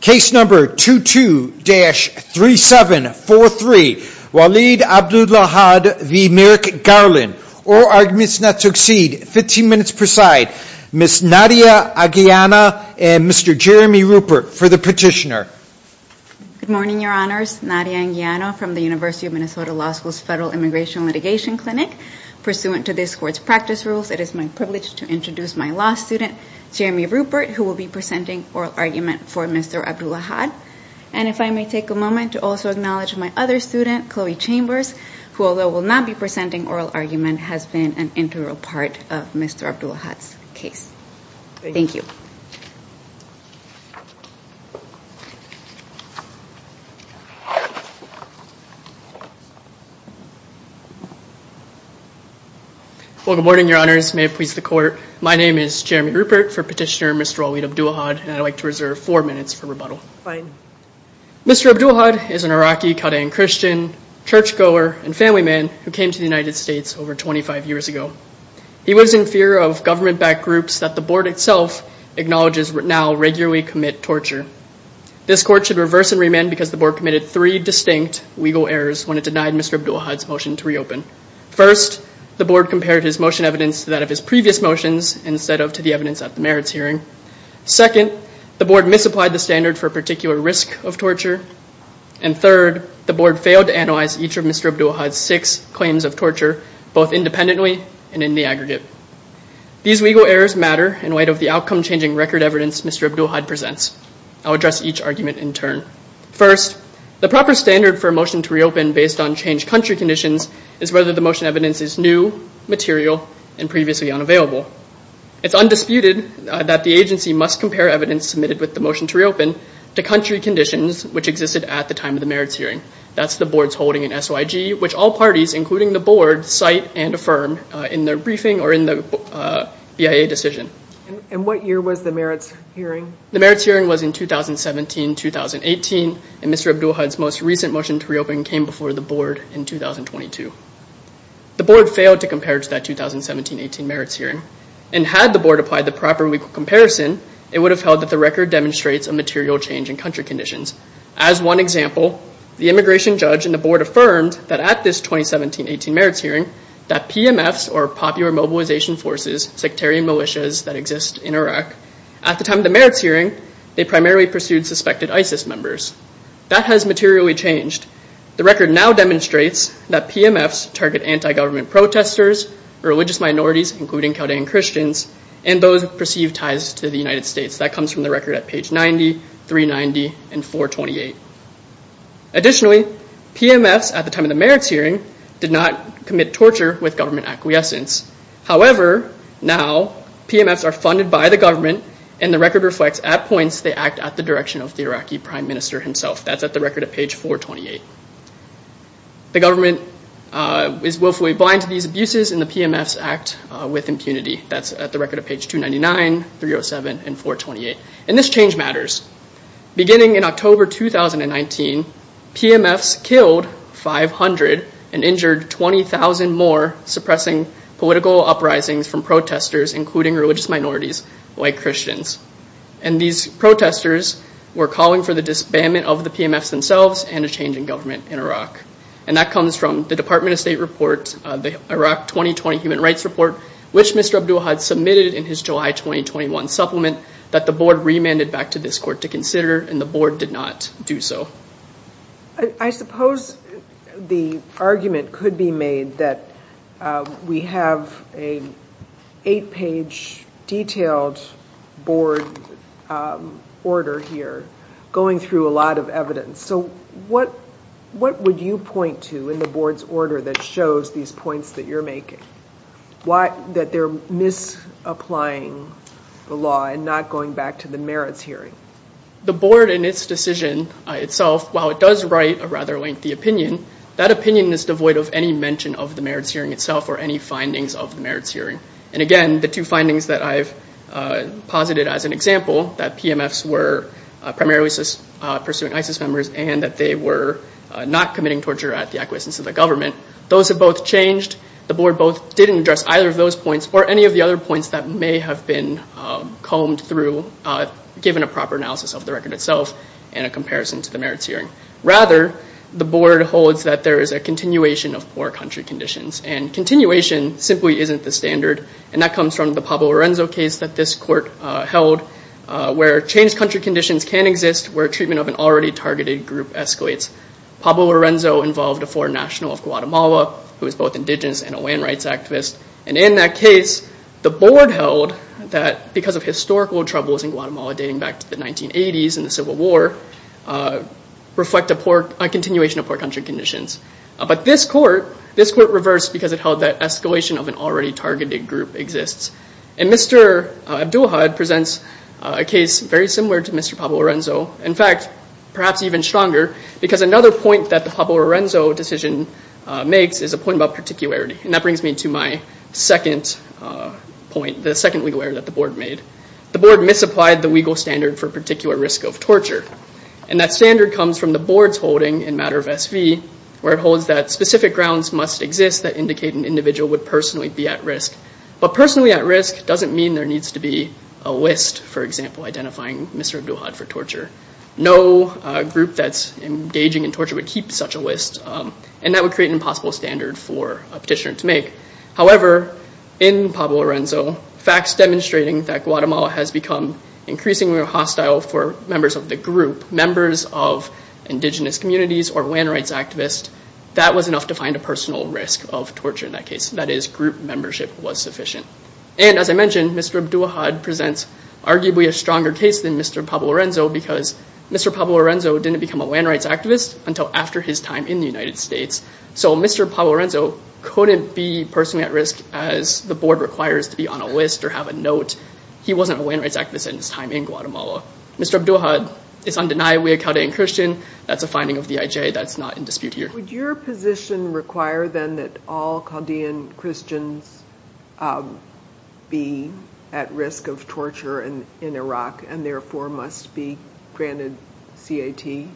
Case number 22-3743, Walid Abdulahad v. Merrick Garland. Oral arguments not to exceed 15 minutes per side. Ms. Nadia Aguilana and Mr. Jeremy Rupert for the petitioner. Good morning, your honors. Nadia Aguilana from the University of Minnesota Law School's Federal Immigration Litigation Clinic. Pursuant to this court's practice rules, it is my privilege to introduce my law student, Jeremy Rupert, who will be presenting oral argument for Mr. Abdulahad. And if I may take a moment to also acknowledge my other student, Chloe Chambers, who although will not be presenting oral argument, has been an integral part of Mr. Abdulahad's case. Thank you. Well, good morning, your honors. May it please the court. My name is Jeremy Rupert for petitioner Mr. Walid Abdulahad, and I'd like to reserve four minutes for rebuttal. Fine. Mr. Abdulahad is an Iraqi Qadian Christian, churchgoer, and family man who came to the United States over 25 years ago. He was in fear of government-backed groups that the board itself acknowledges now regularly commit torture. This court should reverse and remand because the board committed three distinct legal errors when it denied Mr. Abdulahad's motion to reopen. First, the board compared his motion evidence to that of his previous motions instead of to the evidence at the merits hearing. Second, the board misapplied the standard for a particular risk of torture. And third, the board failed to analyze each of Mr. Abdulahad's six claims of torture, both independently and in the aggregate. These legal errors matter in light of the outcome-changing record evidence Mr. Abdulahad presents. I'll address each argument in turn. First, the proper standard for a motion to reopen based on changed country conditions is whether the motion evidence is new, material, and previously unavailable. It's undisputed that the agency must compare evidence submitted with the motion to reopen to country conditions which existed at the time of the merits hearing. That's the board's holding in SOIG, which all parties, including the board, cite and affirm in their briefing or in the BIA decision. And what year was the merits hearing? The merits hearing was in 2017-2018, and Mr. Abdulahad's most recent motion to reopen came before the board in 2022. The board failed to compare to that 2017-18 merits hearing, and had the board applied the proper legal comparison, it would have held that the record demonstrates a material change in country conditions. As one example, the immigration judge and the board affirmed that at this 2017-18 merits hearing that PMFs, or Popular Mobilization Forces, sectarian militias that exist in Iraq, at the time of the merits hearing, they primarily pursued suspected ISIS members. That has materially changed. The record now demonstrates that PMFs target anti-government protesters, religious minorities, including Chaldean Christians, and those with perceived ties to the United States. That comes from the record at page 90, 390, and 428. Additionally, PMFs, at the time of the merits hearing, did not commit torture with government acquiescence. However, now, PMFs are funded by the government, and the record reflects at points they act at the direction of the Iraqi Prime Minister himself. That's at the record at page 428. The government is willfully blind to these abuses, and the PMFs act with impunity. That's at the record at page 299, 307, and 428. And this change matters. Beginning in October 2019, PMFs killed 500 and injured 20,000 more, suppressing political uprisings from protesters, including religious minorities, like Christians. And these protesters were calling for the disbandment of the PMFs themselves and a change in government in Iraq. And that comes from the Department of State report, the Iraq 2020 Human Rights Report, which Mr. Abdullah had submitted in his July 2021 supplement that the board remanded back to this court to consider, and the board did not do so. I suppose the argument could be made that we have an eight-page detailed board order here going through a lot of evidence. So what would you point to in the board's order that shows these points that you're making? That they're misapplying the law and not going back to the merits hearing? The board in its decision itself, while it does write a rather lengthy opinion, that opinion is devoid of any mention of the merits hearing itself or any findings of the merits hearing. And again, the two findings that I've posited as an example, that PMFs were primarily pursuing ISIS members and that they were not committing torture at the acquiescence of the government, those have both changed. The board both didn't address either of those points or any of the other points that may have been combed through, given a proper analysis of the record itself and a comparison to the merits hearing. Rather, the board holds that there is a continuation of poor country conditions, and continuation simply isn't the standard. And that comes from the Pablo Lorenzo case that this court held, where changed country conditions can exist, where treatment of an already targeted group escalates. Pablo Lorenzo involved a foreign national of Guatemala, who was both indigenous and a land rights activist. And in that case, the board held that because of historical troubles in Guatemala dating back to the 1980s and the Civil War, reflect a continuation of poor country conditions. But this court reversed because it held that escalation of an already targeted group exists. And Mr. Abdulhad presents a case very similar to Mr. Pablo Lorenzo. In fact, perhaps even stronger, because another point that the Pablo Lorenzo decision makes is a point about particularity. And that brings me to my second point, the second legal error that the board made. The board misapplied the legal standard for particular risk of torture. And that standard comes from the board's holding in matter of SV, where it holds that specific grounds must exist that indicate an individual would personally be at risk. But personally at risk doesn't mean there needs to be a list, for example, identifying Mr. Abdulhad for torture. No group that's engaging in torture would keep such a list, and that would create an impossible standard for a petitioner to make. However, in Pablo Lorenzo, facts demonstrating that Guatemala has become increasingly hostile for members of the group, members of indigenous communities or land rights activists, that was enough to find a personal risk of torture in that case. That is, group membership was sufficient. And as I mentioned, Mr. Abdulhad presents arguably a stronger case than Mr. Pablo Lorenzo because Mr. Pablo Lorenzo didn't become a land rights activist until after his time in the United States. So Mr. Pablo Lorenzo couldn't be personally at risk as the board requires to be on a list or have a note. He wasn't a land rights activist in his time in Guatemala. Mr. Abdulhad is undeniably a Chaldean Christian. That's a finding of the IJ. That's not in dispute here. Would your position require then that all Chaldean Christians be at risk of torture in Iraq and therefore must be granted CAT?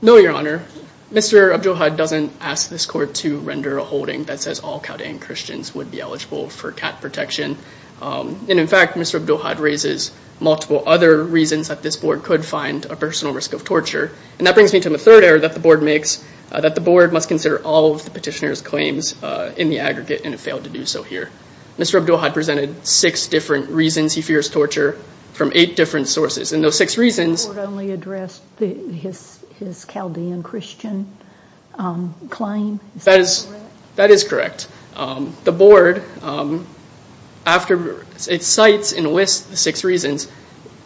No, Your Honor. Mr. Abdulhad doesn't ask this court to render a holding that says all Chaldean Christians would be eligible for CAT protection. And in fact, Mr. Abdulhad raises multiple other reasons that this board could find a personal risk of torture. And that brings me to the third error that the board makes, that the board must consider all of the petitioner's claims in the aggregate and it failed to do so here. Mr. Abdulhad presented six different reasons he fears torture from eight different sources. And those six reasons- The board only addressed his Chaldean Christian claim. Is that correct? That is correct. The board, after it cites in a list the six reasons,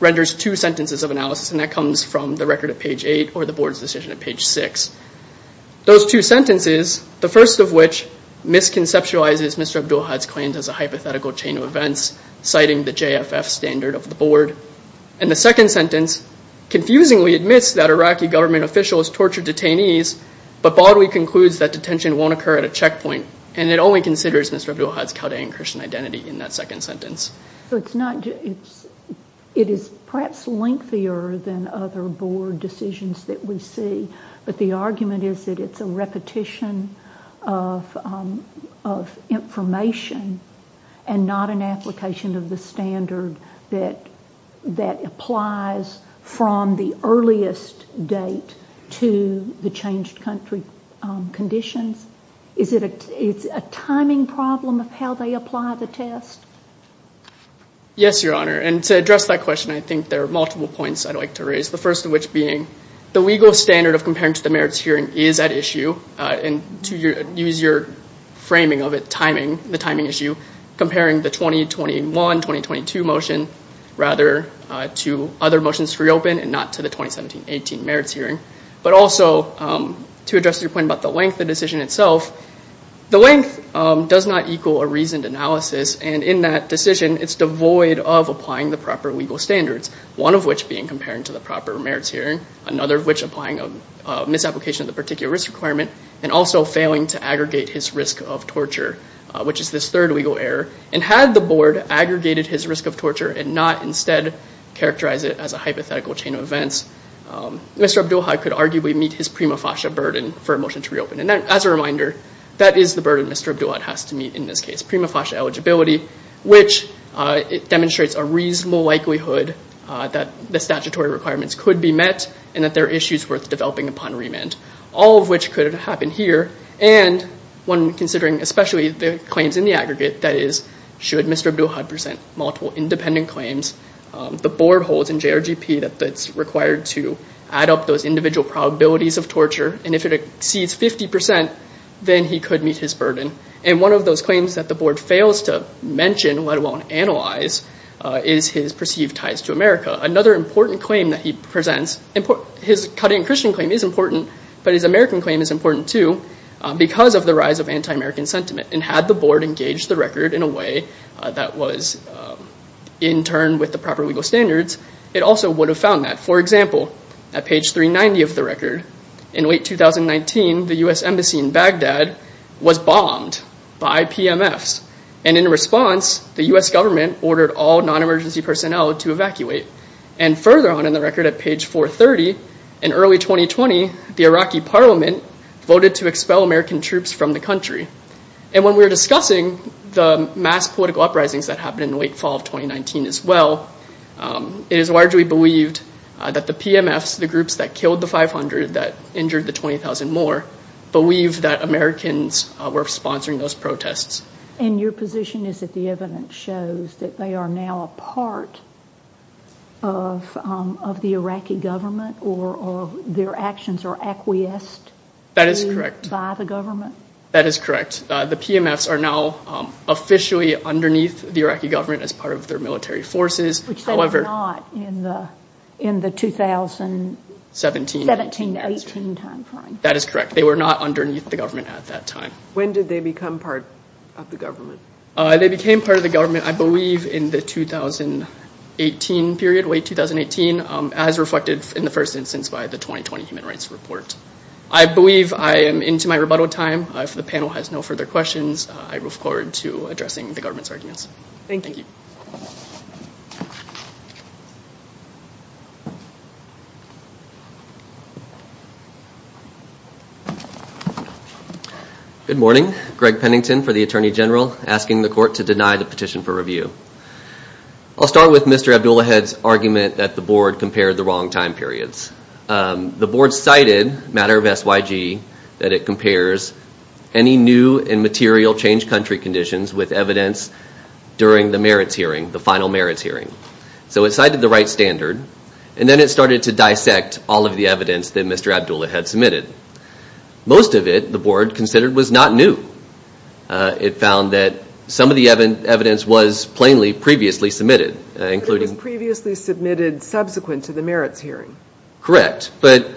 renders two sentences of analysis, and that comes from the record at page eight or the board's decision at page six. Those two sentences, the first of which misconceptualizes Mr. Abdulhad's claims as a hypothetical chain of events, citing the JFF standard of the board. And the second sentence confusingly admits that Iraqi government officials tortured detainees, but broadly concludes that detention won't occur at a checkpoint. And it only considers Mr. Abdulhad's Chaldean Christian identity in that second sentence. It is perhaps lengthier than other board decisions that we see, but the argument is that it's a repetition of information and not an application of the standard that applies from the earliest date to the changed country conditions. Is it a timing problem of how they apply the test? Yes, Your Honor. And to address that question, I think there are multiple points I'd like to raise, the first of which being the legal standard of comparing to the merits hearing is at issue, and to use your framing of it, timing, the timing issue, comparing the 2021-2022 motion rather to other motions to reopen and not to the 2017-18 merits hearing. But also to address your point about the length of the decision itself, the length does not equal a reasoned analysis, and in that decision it's devoid of applying the proper legal standards, one of which being comparing to the proper merits hearing, another of which applying a misapplication of the particular risk requirement, and also failing to aggregate his risk of torture, which is this third legal error. And had the board aggregated his risk of torture and not instead characterized it as a hypothetical chain of events, Mr. Abdulhad could arguably meet his prima facie burden for a motion to reopen. And as a reminder, that is the burden Mr. Abdulhad has to meet in this case, prima facie eligibility, which demonstrates a reasonable likelihood that the statutory requirements could be met, and that there are issues worth developing upon remand. All of which could have happened here, and one considering especially the claims in the aggregate, that is, should Mr. Abdulhad present multiple independent claims, the board holds in JRGP that it's required to add up those individual probabilities of torture, and if it exceeds 50%, then he could meet his burden. And one of those claims that the board fails to mention, let alone analyze, is his perceived ties to America. Another important claim that he presents, his cutting Christian claim is important, but his American claim is important too, because of the rise of anti-American sentiment. And had the board engaged the record in a way that was in turn with the proper legal standards, it also would have found that. For example, at page 390 of the record, in late 2019, the U.S. Embassy in Baghdad was bombed by PMFs. And in response, the U.S. government ordered all non-emergency personnel to evacuate. And further on in the record at page 430, in early 2020, the Iraqi parliament voted to expel American troops from the country. And when we were discussing the mass political uprisings that happened in late fall of 2019 as well, it is largely believed that the PMFs, the groups that killed the 500, that injured the 20,000 more, believe that Americans were sponsoring those protests. And your position is that the evidence shows that they are now a part of the Iraqi government or their actions are acquiesced? That is correct. By the government? That is correct. The PMFs are now officially underneath the Iraqi government as part of their military forces. Which they were not in the 2017-18 timeframe. That is correct. They were not underneath the government at that time. When did they become part of the government? They became part of the government, I believe, in the 2018 period, late 2018, as reflected in the first instance by the 2020 Human Rights Report. I believe I am into my rebuttal time. If the panel has no further questions, I move forward to addressing the government's arguments. Thank you. Thank you. Good morning. Greg Pennington for the Attorney General, asking the court to deny the petition for review. I'll start with Mr. Abdullahed's argument that the board compared the wrong time periods. The board cited, matter of SYG, that it compares any new and material changed country conditions with evidence during the merits hearing, the final merits hearing. So it cited the right standard. And then it started to dissect all of the evidence that Mr. Abdullahed had submitted. Most of it, the board considered, was not new. It found that some of the evidence was plainly previously submitted. It was previously submitted subsequent to the merits hearing. Correct. But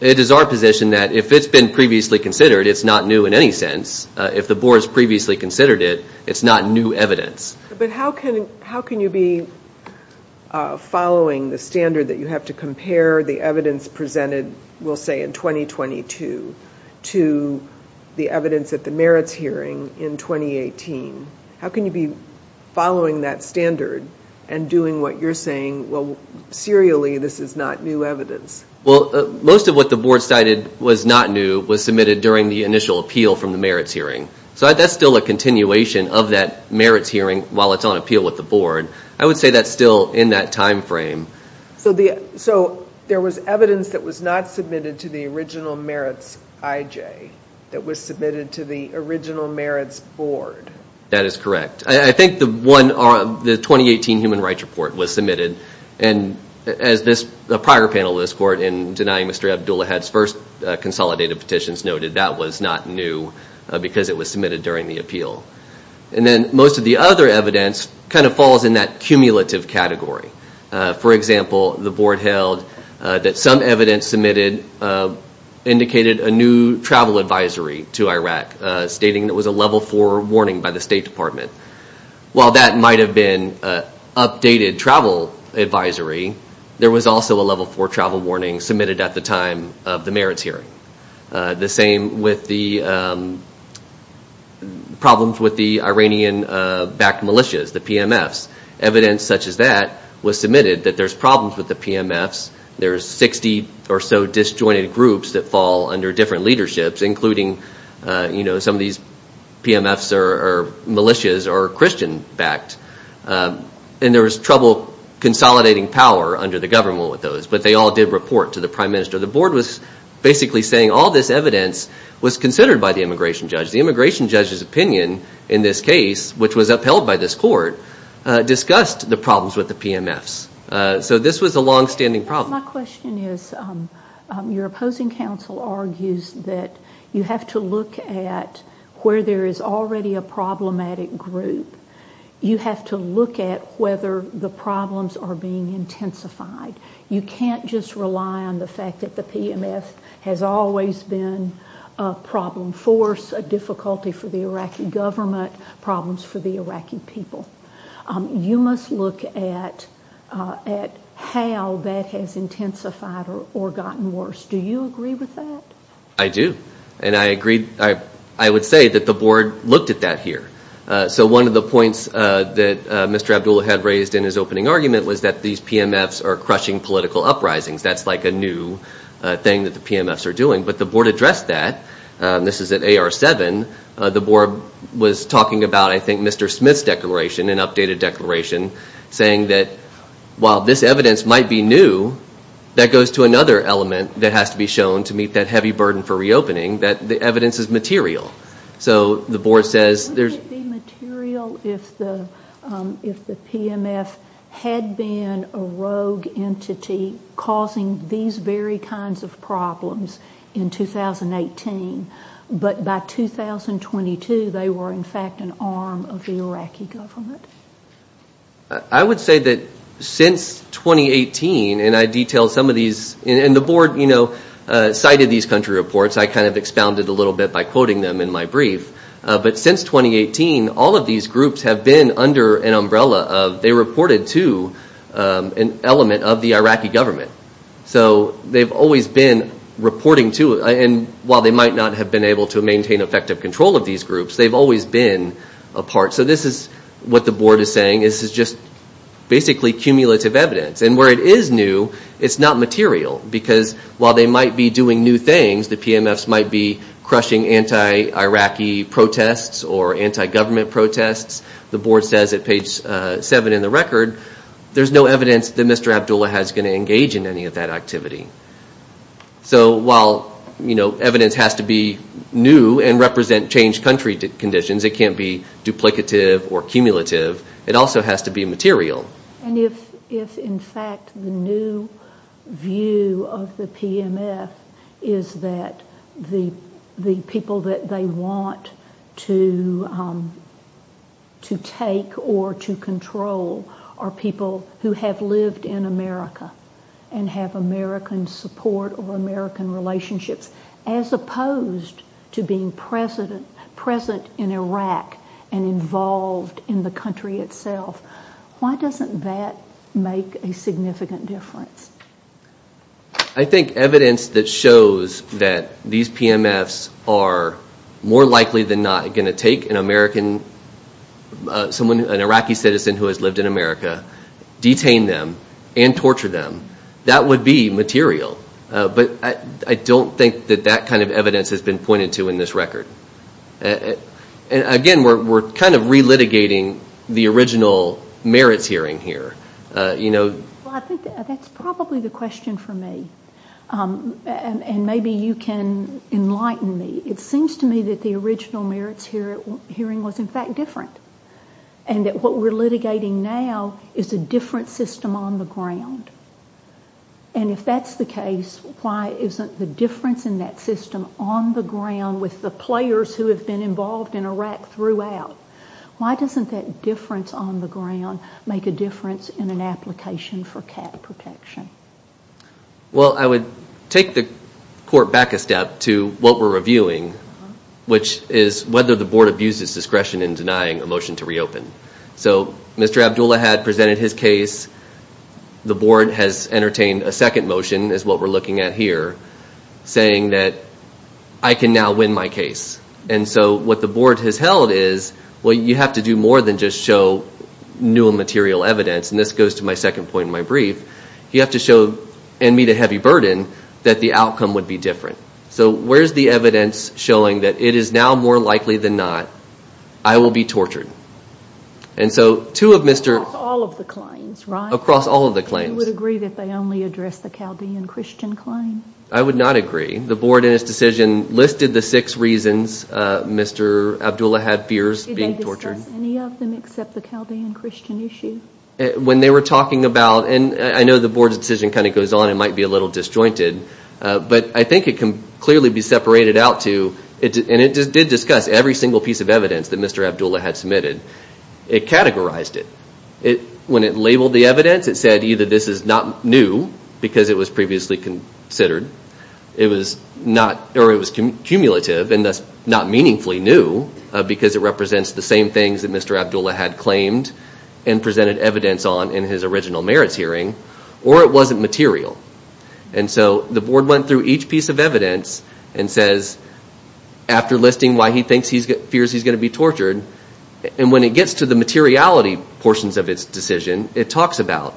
it is our position that if it's been previously considered, it's not new in any sense. If the board has previously considered it, it's not new evidence. But how can you be following the standard that you have to compare the evidence presented, we'll say in 2022, to the evidence at the merits hearing in 2018? How can you be following that standard and doing what you're saying, well, serially this is not new evidence? Well, most of what the board cited was not new, was submitted during the initial appeal from the merits hearing. So that's still a continuation of that merits hearing while it's on appeal with the board. I would say that's still in that time frame. So there was evidence that was not submitted to the original merits IJ, that was submitted to the original merits board? That is correct. I think the 2018 Human Rights Report was submitted, and as a prior panel of this court in denying Mr. Abdulahad's first consolidated petitions noted, that was not new because it was submitted during the appeal. And then most of the other evidence kind of falls in that cumulative category. For example, the board held that some evidence submitted indicated a new travel advisory to Iraq, stating it was a level four warning by the State Department. While that might have been updated travel advisory, there was also a level four travel warning submitted at the time of the merits hearing. The same with the problems with the Iranian-backed militias, the PMFs. Evidence such as that was submitted that there's problems with the PMFs, there's 60 or so disjointed groups that fall under different leaderships, some of these PMFs or militias are Christian-backed, and there was trouble consolidating power under the government with those. But they all did report to the prime minister. The board was basically saying all this evidence was considered by the immigration judge. The immigration judge's opinion in this case, which was upheld by this court, discussed the problems with the PMFs. So this was a longstanding problem. My question is, your opposing counsel argues that you have to look at where there is already a problematic group. You have to look at whether the problems are being intensified. You can't just rely on the fact that the PMF has always been a problem force, a difficulty for the Iraqi government, problems for the Iraqi people. You must look at how that has intensified or gotten worse. Do you agree with that? I do. And I would say that the board looked at that here. So one of the points that Mr. Abdul had raised in his opening argument was that these PMFs are crushing political uprisings. That's like a new thing that the PMFs are doing. But the board addressed that. This is at AR-7. The board was talking about, I think, Mr. Smith's declaration, an updated declaration, saying that while this evidence might be new, that goes to another element that has to be shown to meet that heavy burden for reopening, that the evidence is material. Wouldn't it be material if the PMF had been a rogue entity causing these very kinds of problems in 2018, but by 2022 they were in fact an arm of the Iraqi government? I would say that since 2018, and the board cited these country reports. I kind of expounded a little bit by quoting them in my brief. But since 2018, all of these groups have been under an umbrella of they reported to an element of the Iraqi government. So they've always been reporting to, and while they might not have been able to maintain effective control of these groups, they've always been a part. So this is what the board is saying. This is just basically cumulative evidence. And where it is new, it's not material. Because while they might be doing new things, the PMFs might be crushing anti-Iraqi protests or anti-government protests. The board says at page 7 in the record, there's no evidence that Mr. Abdullah has going to engage in any of that activity. So while evidence has to be new and represent changed country conditions, it can't be duplicative or cumulative. It also has to be material. And if, in fact, the new view of the PMF is that the people that they want to take or to control are people who have lived in America and have American support or American relationships, as opposed to being present in Iraq and involved in the country itself, why doesn't that make a significant difference? I think evidence that shows that these PMFs are more likely than not going to take an Iraqi citizen who has lived in America, detain them, and torture them, that would be material. But I don't think that that kind of evidence has been pointed to in this record. Again, we're kind of relitigating the original merits hearing here. I think that's probably the question for me, and maybe you can enlighten me. It seems to me that the original merits hearing was, in fact, different, and that what we're litigating now is a different system on the ground. And if that's the case, why isn't the difference in that system on the ground with the players who have been involved in Iraq throughout, why doesn't that difference on the ground make a difference in an application for cap protection? Well, I would take the court back a step to what we're reviewing, which is whether the board abuses discretion in denying a motion to reopen. So Mr. Abdullah had presented his case. The board has entertained a second motion, is what we're looking at here, saying that I can now win my case. And so what the board has held is, well, you have to do more than just show new and material evidence, and this goes to my second point in my brief. You have to show and meet a heavy burden that the outcome would be different. So where's the evidence showing that it is now more likely than not I will be tortured? And so two of Mr. Across all of the claims, right? Across all of the claims. And you would agree that they only address the Chaldean Christian claim? I would not agree. The board in its decision listed the six reasons Mr. Abdullah had fears being tortured. Did they discuss any of them except the Chaldean Christian issue? When they were talking about, and I know the board's decision kind of goes on and might be a little disjointed, but I think it can clearly be separated out to, and it did discuss every single piece of evidence that Mr. Abdullah had submitted. It categorized it. When it labeled the evidence, it said either this is not new, because it was previously considered, or it was cumulative and thus not meaningfully new, because it represents the same things that Mr. Abdullah had claimed and presented evidence on in his original merits hearing, or it wasn't material. And so the board went through each piece of evidence and says, after listing why he fears he's going to be tortured, and when it gets to the materiality portions of its decision, it talks about,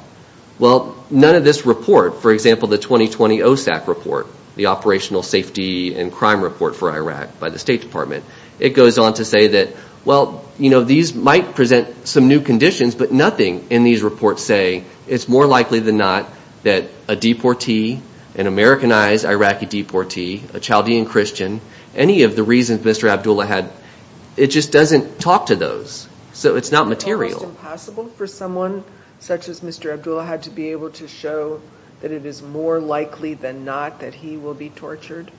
well, none of this report, for example, the 2020 OSAC report, the Operational Safety and Crime Report for Iraq by the State Department, it goes on to say that, well, you know, these might present some new conditions, but nothing in these reports say it's more likely than not that a deportee, an Americanized Iraqi deportee, a Chaldean Christian, any of the reasons Mr. Abdullah had, it just doesn't talk to those. So it's not material. Is it almost impossible for someone such as Mr. Abdullah had to be able to show that it is more likely than not that he will be tortured?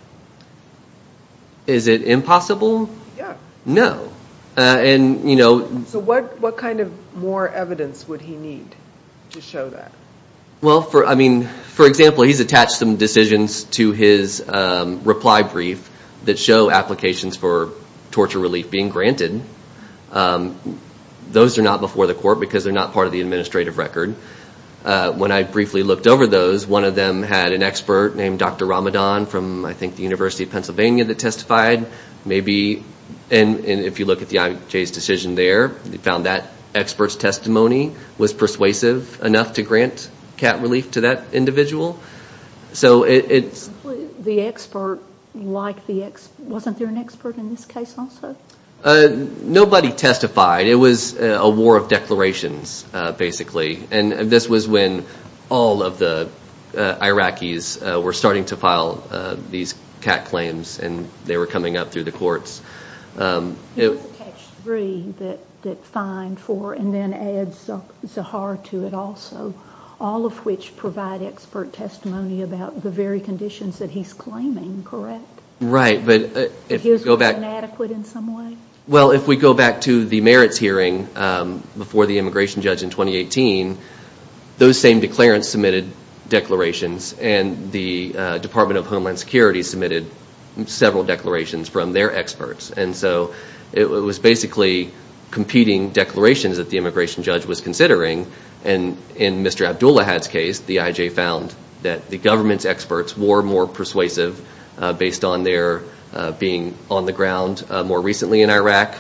Is it impossible? Yeah. No. So what kind of more evidence would he need to show that? Well, I mean, for example, he's attached some decisions to his reply brief that show applications for torture relief being granted. Those are not before the court because they're not part of the administrative record. When I briefly looked over those, one of them had an expert named Dr. Ramadan from, I think, the University of Pennsylvania that testified. And if you look at the IMJ's decision there, they found that expert's testimony was persuasive enough to grant cat relief to that individual. The expert liked the expert. Wasn't there an expert in this case also? Nobody testified. It was a war of declarations, basically. And this was when all of the Iraqis were starting to file these cat claims and they were coming up through the courts. He was attached three that fined four and then adds Zahar to it also, all of which provide expert testimony about the very conditions that he's claiming, correct? Right. But his was inadequate in some way? Well, if we go back to the merits hearing before the immigration judge in 2018, those same declarants submitted declarations and the Department of Homeland Security submitted several declarations from their experts. And so it was basically competing declarations that the immigration judge was considering. And in Mr. Abdulahad's case, the IJ found that the government's experts were more persuasive based on their being on the ground more recently in Iraq.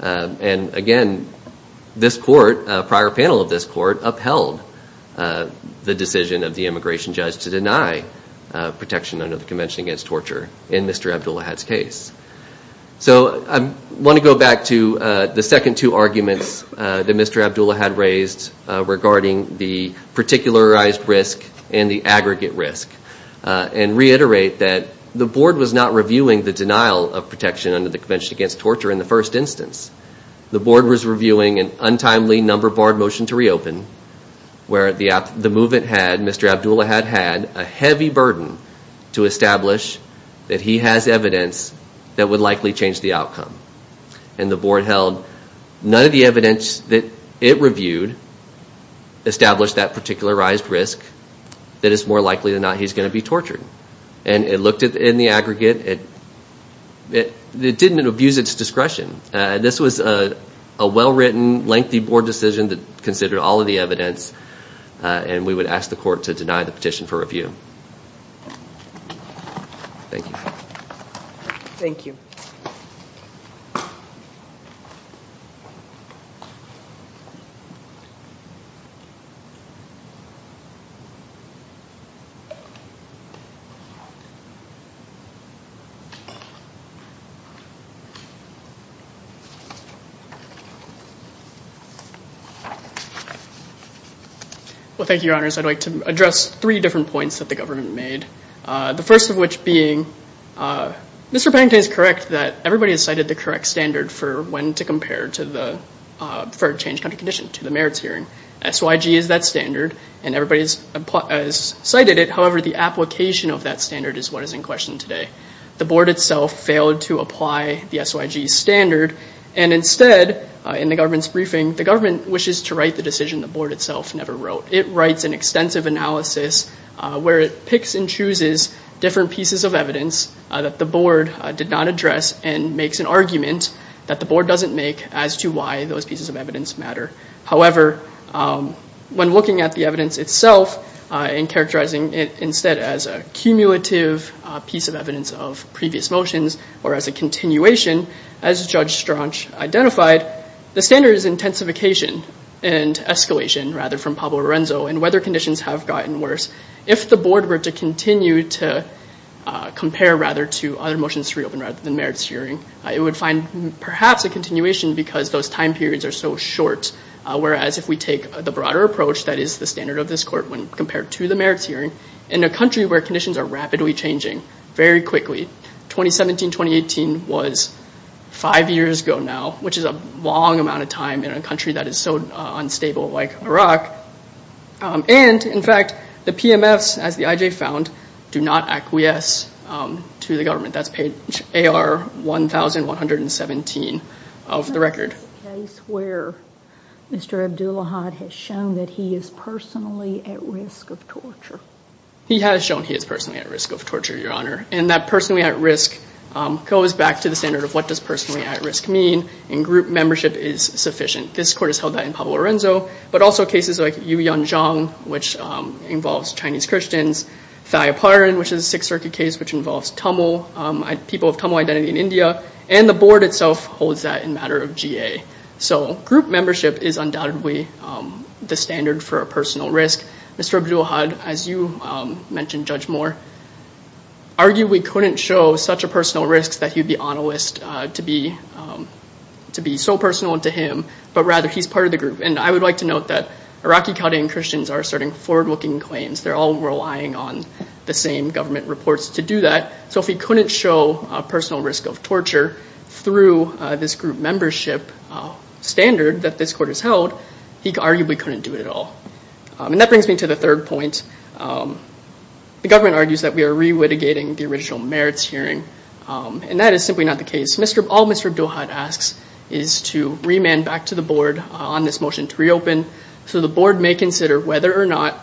And, again, this court, a prior panel of this court, upheld the decision of the immigration judge to deny protection under the Convention Against Torture in Mr. Abdulahad's case. So I want to go back to the second two arguments that Mr. Abdulahad raised regarding the particularized risk and the aggregate risk and reiterate that the board was not reviewing the denial of protection under the Convention Against Torture in the first instance. The board was reviewing an untimely, number-barred motion to reopen where the movement had, Mr. Abdulahad had, a heavy burden to establish that he has evidence that would likely change the outcome. And the board held none of the evidence that it reviewed established that particularized risk that it's more likely or not he's going to be tortured. And it looked in the aggregate. It didn't abuse its discretion. This was a well-written, lengthy board decision that considered all of the evidence and we would ask the court to deny the petition for review. Thank you. Thank you. Well, thank you, Your Honors. I'd like to address three different points that the government made, the first of which being Mr. Pennington is correct that everybody has cited the correct standard for when to compare to the preferred change country condition to the merits hearing. SYG is that standard and everybody has cited it. However, the application of that standard is what is in question today. The board itself failed to apply the SYG standard. And instead, in the government's briefing, the government wishes to write the decision the board itself never wrote. It writes an extensive analysis where it picks and chooses different pieces of evidence that the board did not address and makes an argument that the board doesn't make as to why those pieces of evidence matter. However, when looking at the evidence itself and characterizing it instead as a cumulative piece of evidence of previous motions or as a continuation, as Judge Straunch identified, the standard is intensification and escalation, rather from Pablo Lorenzo, and whether conditions have gotten worse. If the board were to continue to compare rather to other motions to reopen rather than merits hearing, it would find perhaps a continuation because those time periods are so short. Whereas if we take the broader approach that is the standard of this court when compared to the merits hearing, in a country where conditions are rapidly changing, very quickly, 2017-2018 was five years ago now, which is a long amount of time in a country that is so unstable like Iraq. And, in fact, the PMFs, as the IJ found, do not acquiesce to the government. That's page AR 1117 of the record. Is there a case where Mr. Abdullahad has shown that he is personally at risk of torture? He has shown he is personally at risk of torture, Your Honor, and that personally at risk goes back to the standard of what does personally at risk mean, and group membership is sufficient. This court has held that in Pablo Lorenzo, but also cases like Yuyan Zhang, which involves Chinese Christians, Thaya Parin, which is a Sixth Circuit case which involves people of Tamil identity in India, and the board itself holds that in matter of GA. So group membership is undoubtedly the standard for a personal risk. Mr. Abdullahad, as you mentioned, Judge Moore, argued we couldn't show such a personal risk that he'd be on a list to be so personal to him, but rather he's part of the group. And I would like to note that Iraqi Chaldean Christians are asserting forward-looking claims. They're all relying on the same government reports to do that. So if he couldn't show a personal risk of torture through this group membership standard that this court has held, he arguably couldn't do it at all. And that brings me to the third point. The government argues that we are re-litigating the original merits hearing, and that is simply not the case. All Mr. Abdullahad asks is to remand back to the board on this motion to reopen so the board may consider whether or not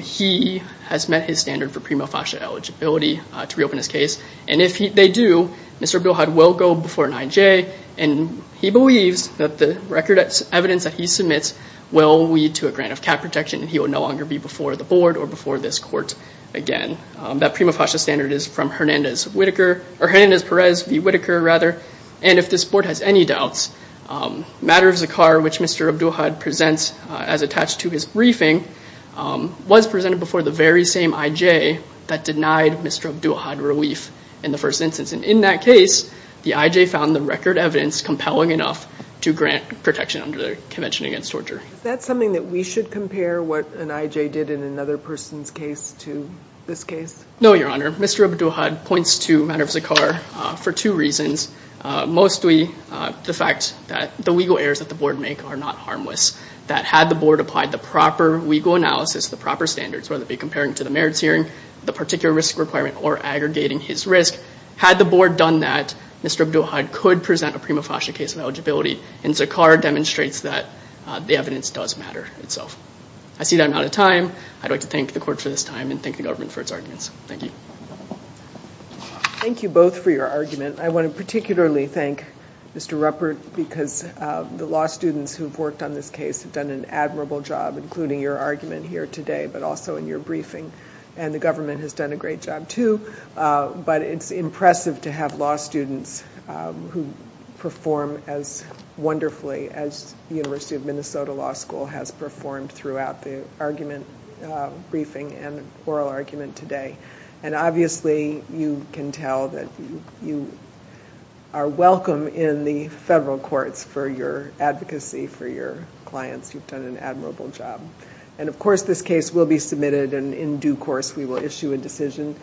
he has met his standard for prima facie eligibility to reopen his case. And if they do, Mr. Abdullahad will go before an IJ, and he believes that the record evidence that he submits will lead to a grant of cap protection, and he will no longer be before the board or before this court again. That prima facie standard is from Hernandez-Perez v. Whitaker. And if this board has any doubts, matter of zakah, which Mr. Abdullahad presents as attached to his briefing, was presented before the very same IJ that denied Mr. Abdullahad relief in the first instance. And in that case, the IJ found the record evidence compelling enough to grant protection under the Convention Against Torture. Is that something that we should compare what an IJ did in another person's case to this case? No, Your Honor. Mr. Abdullahad points to matter of zakah for two reasons, mostly the fact that the legal errors that the board make are not harmless, that had the board applied the proper legal analysis, the proper standards, whether it be comparing to the merits hearing, the particular risk requirement, or aggregating his risk, had the board done that, Mr. Abdullahad could present a prima facie case of eligibility, and zakah demonstrates that the evidence does matter itself. I see that I'm out of time. I'd like to thank the court for this time and thank the government for its arguments. Thank you. Thank you both for your argument. I want to particularly thank Mr. Ruppert because the law students who have worked on this case have done an admirable job, including your argument here today, but also in your briefing. And the government has done a great job, too. But it's impressive to have law students who perform as wonderfully as the University of Minnesota Law School has performed throughout the argument briefing and oral argument today. And obviously you can tell that you are welcome in the federal courts for your advocacy for your clients. You've done an admirable job. And, of course, this case will be submitted, and in due course we will issue a decision.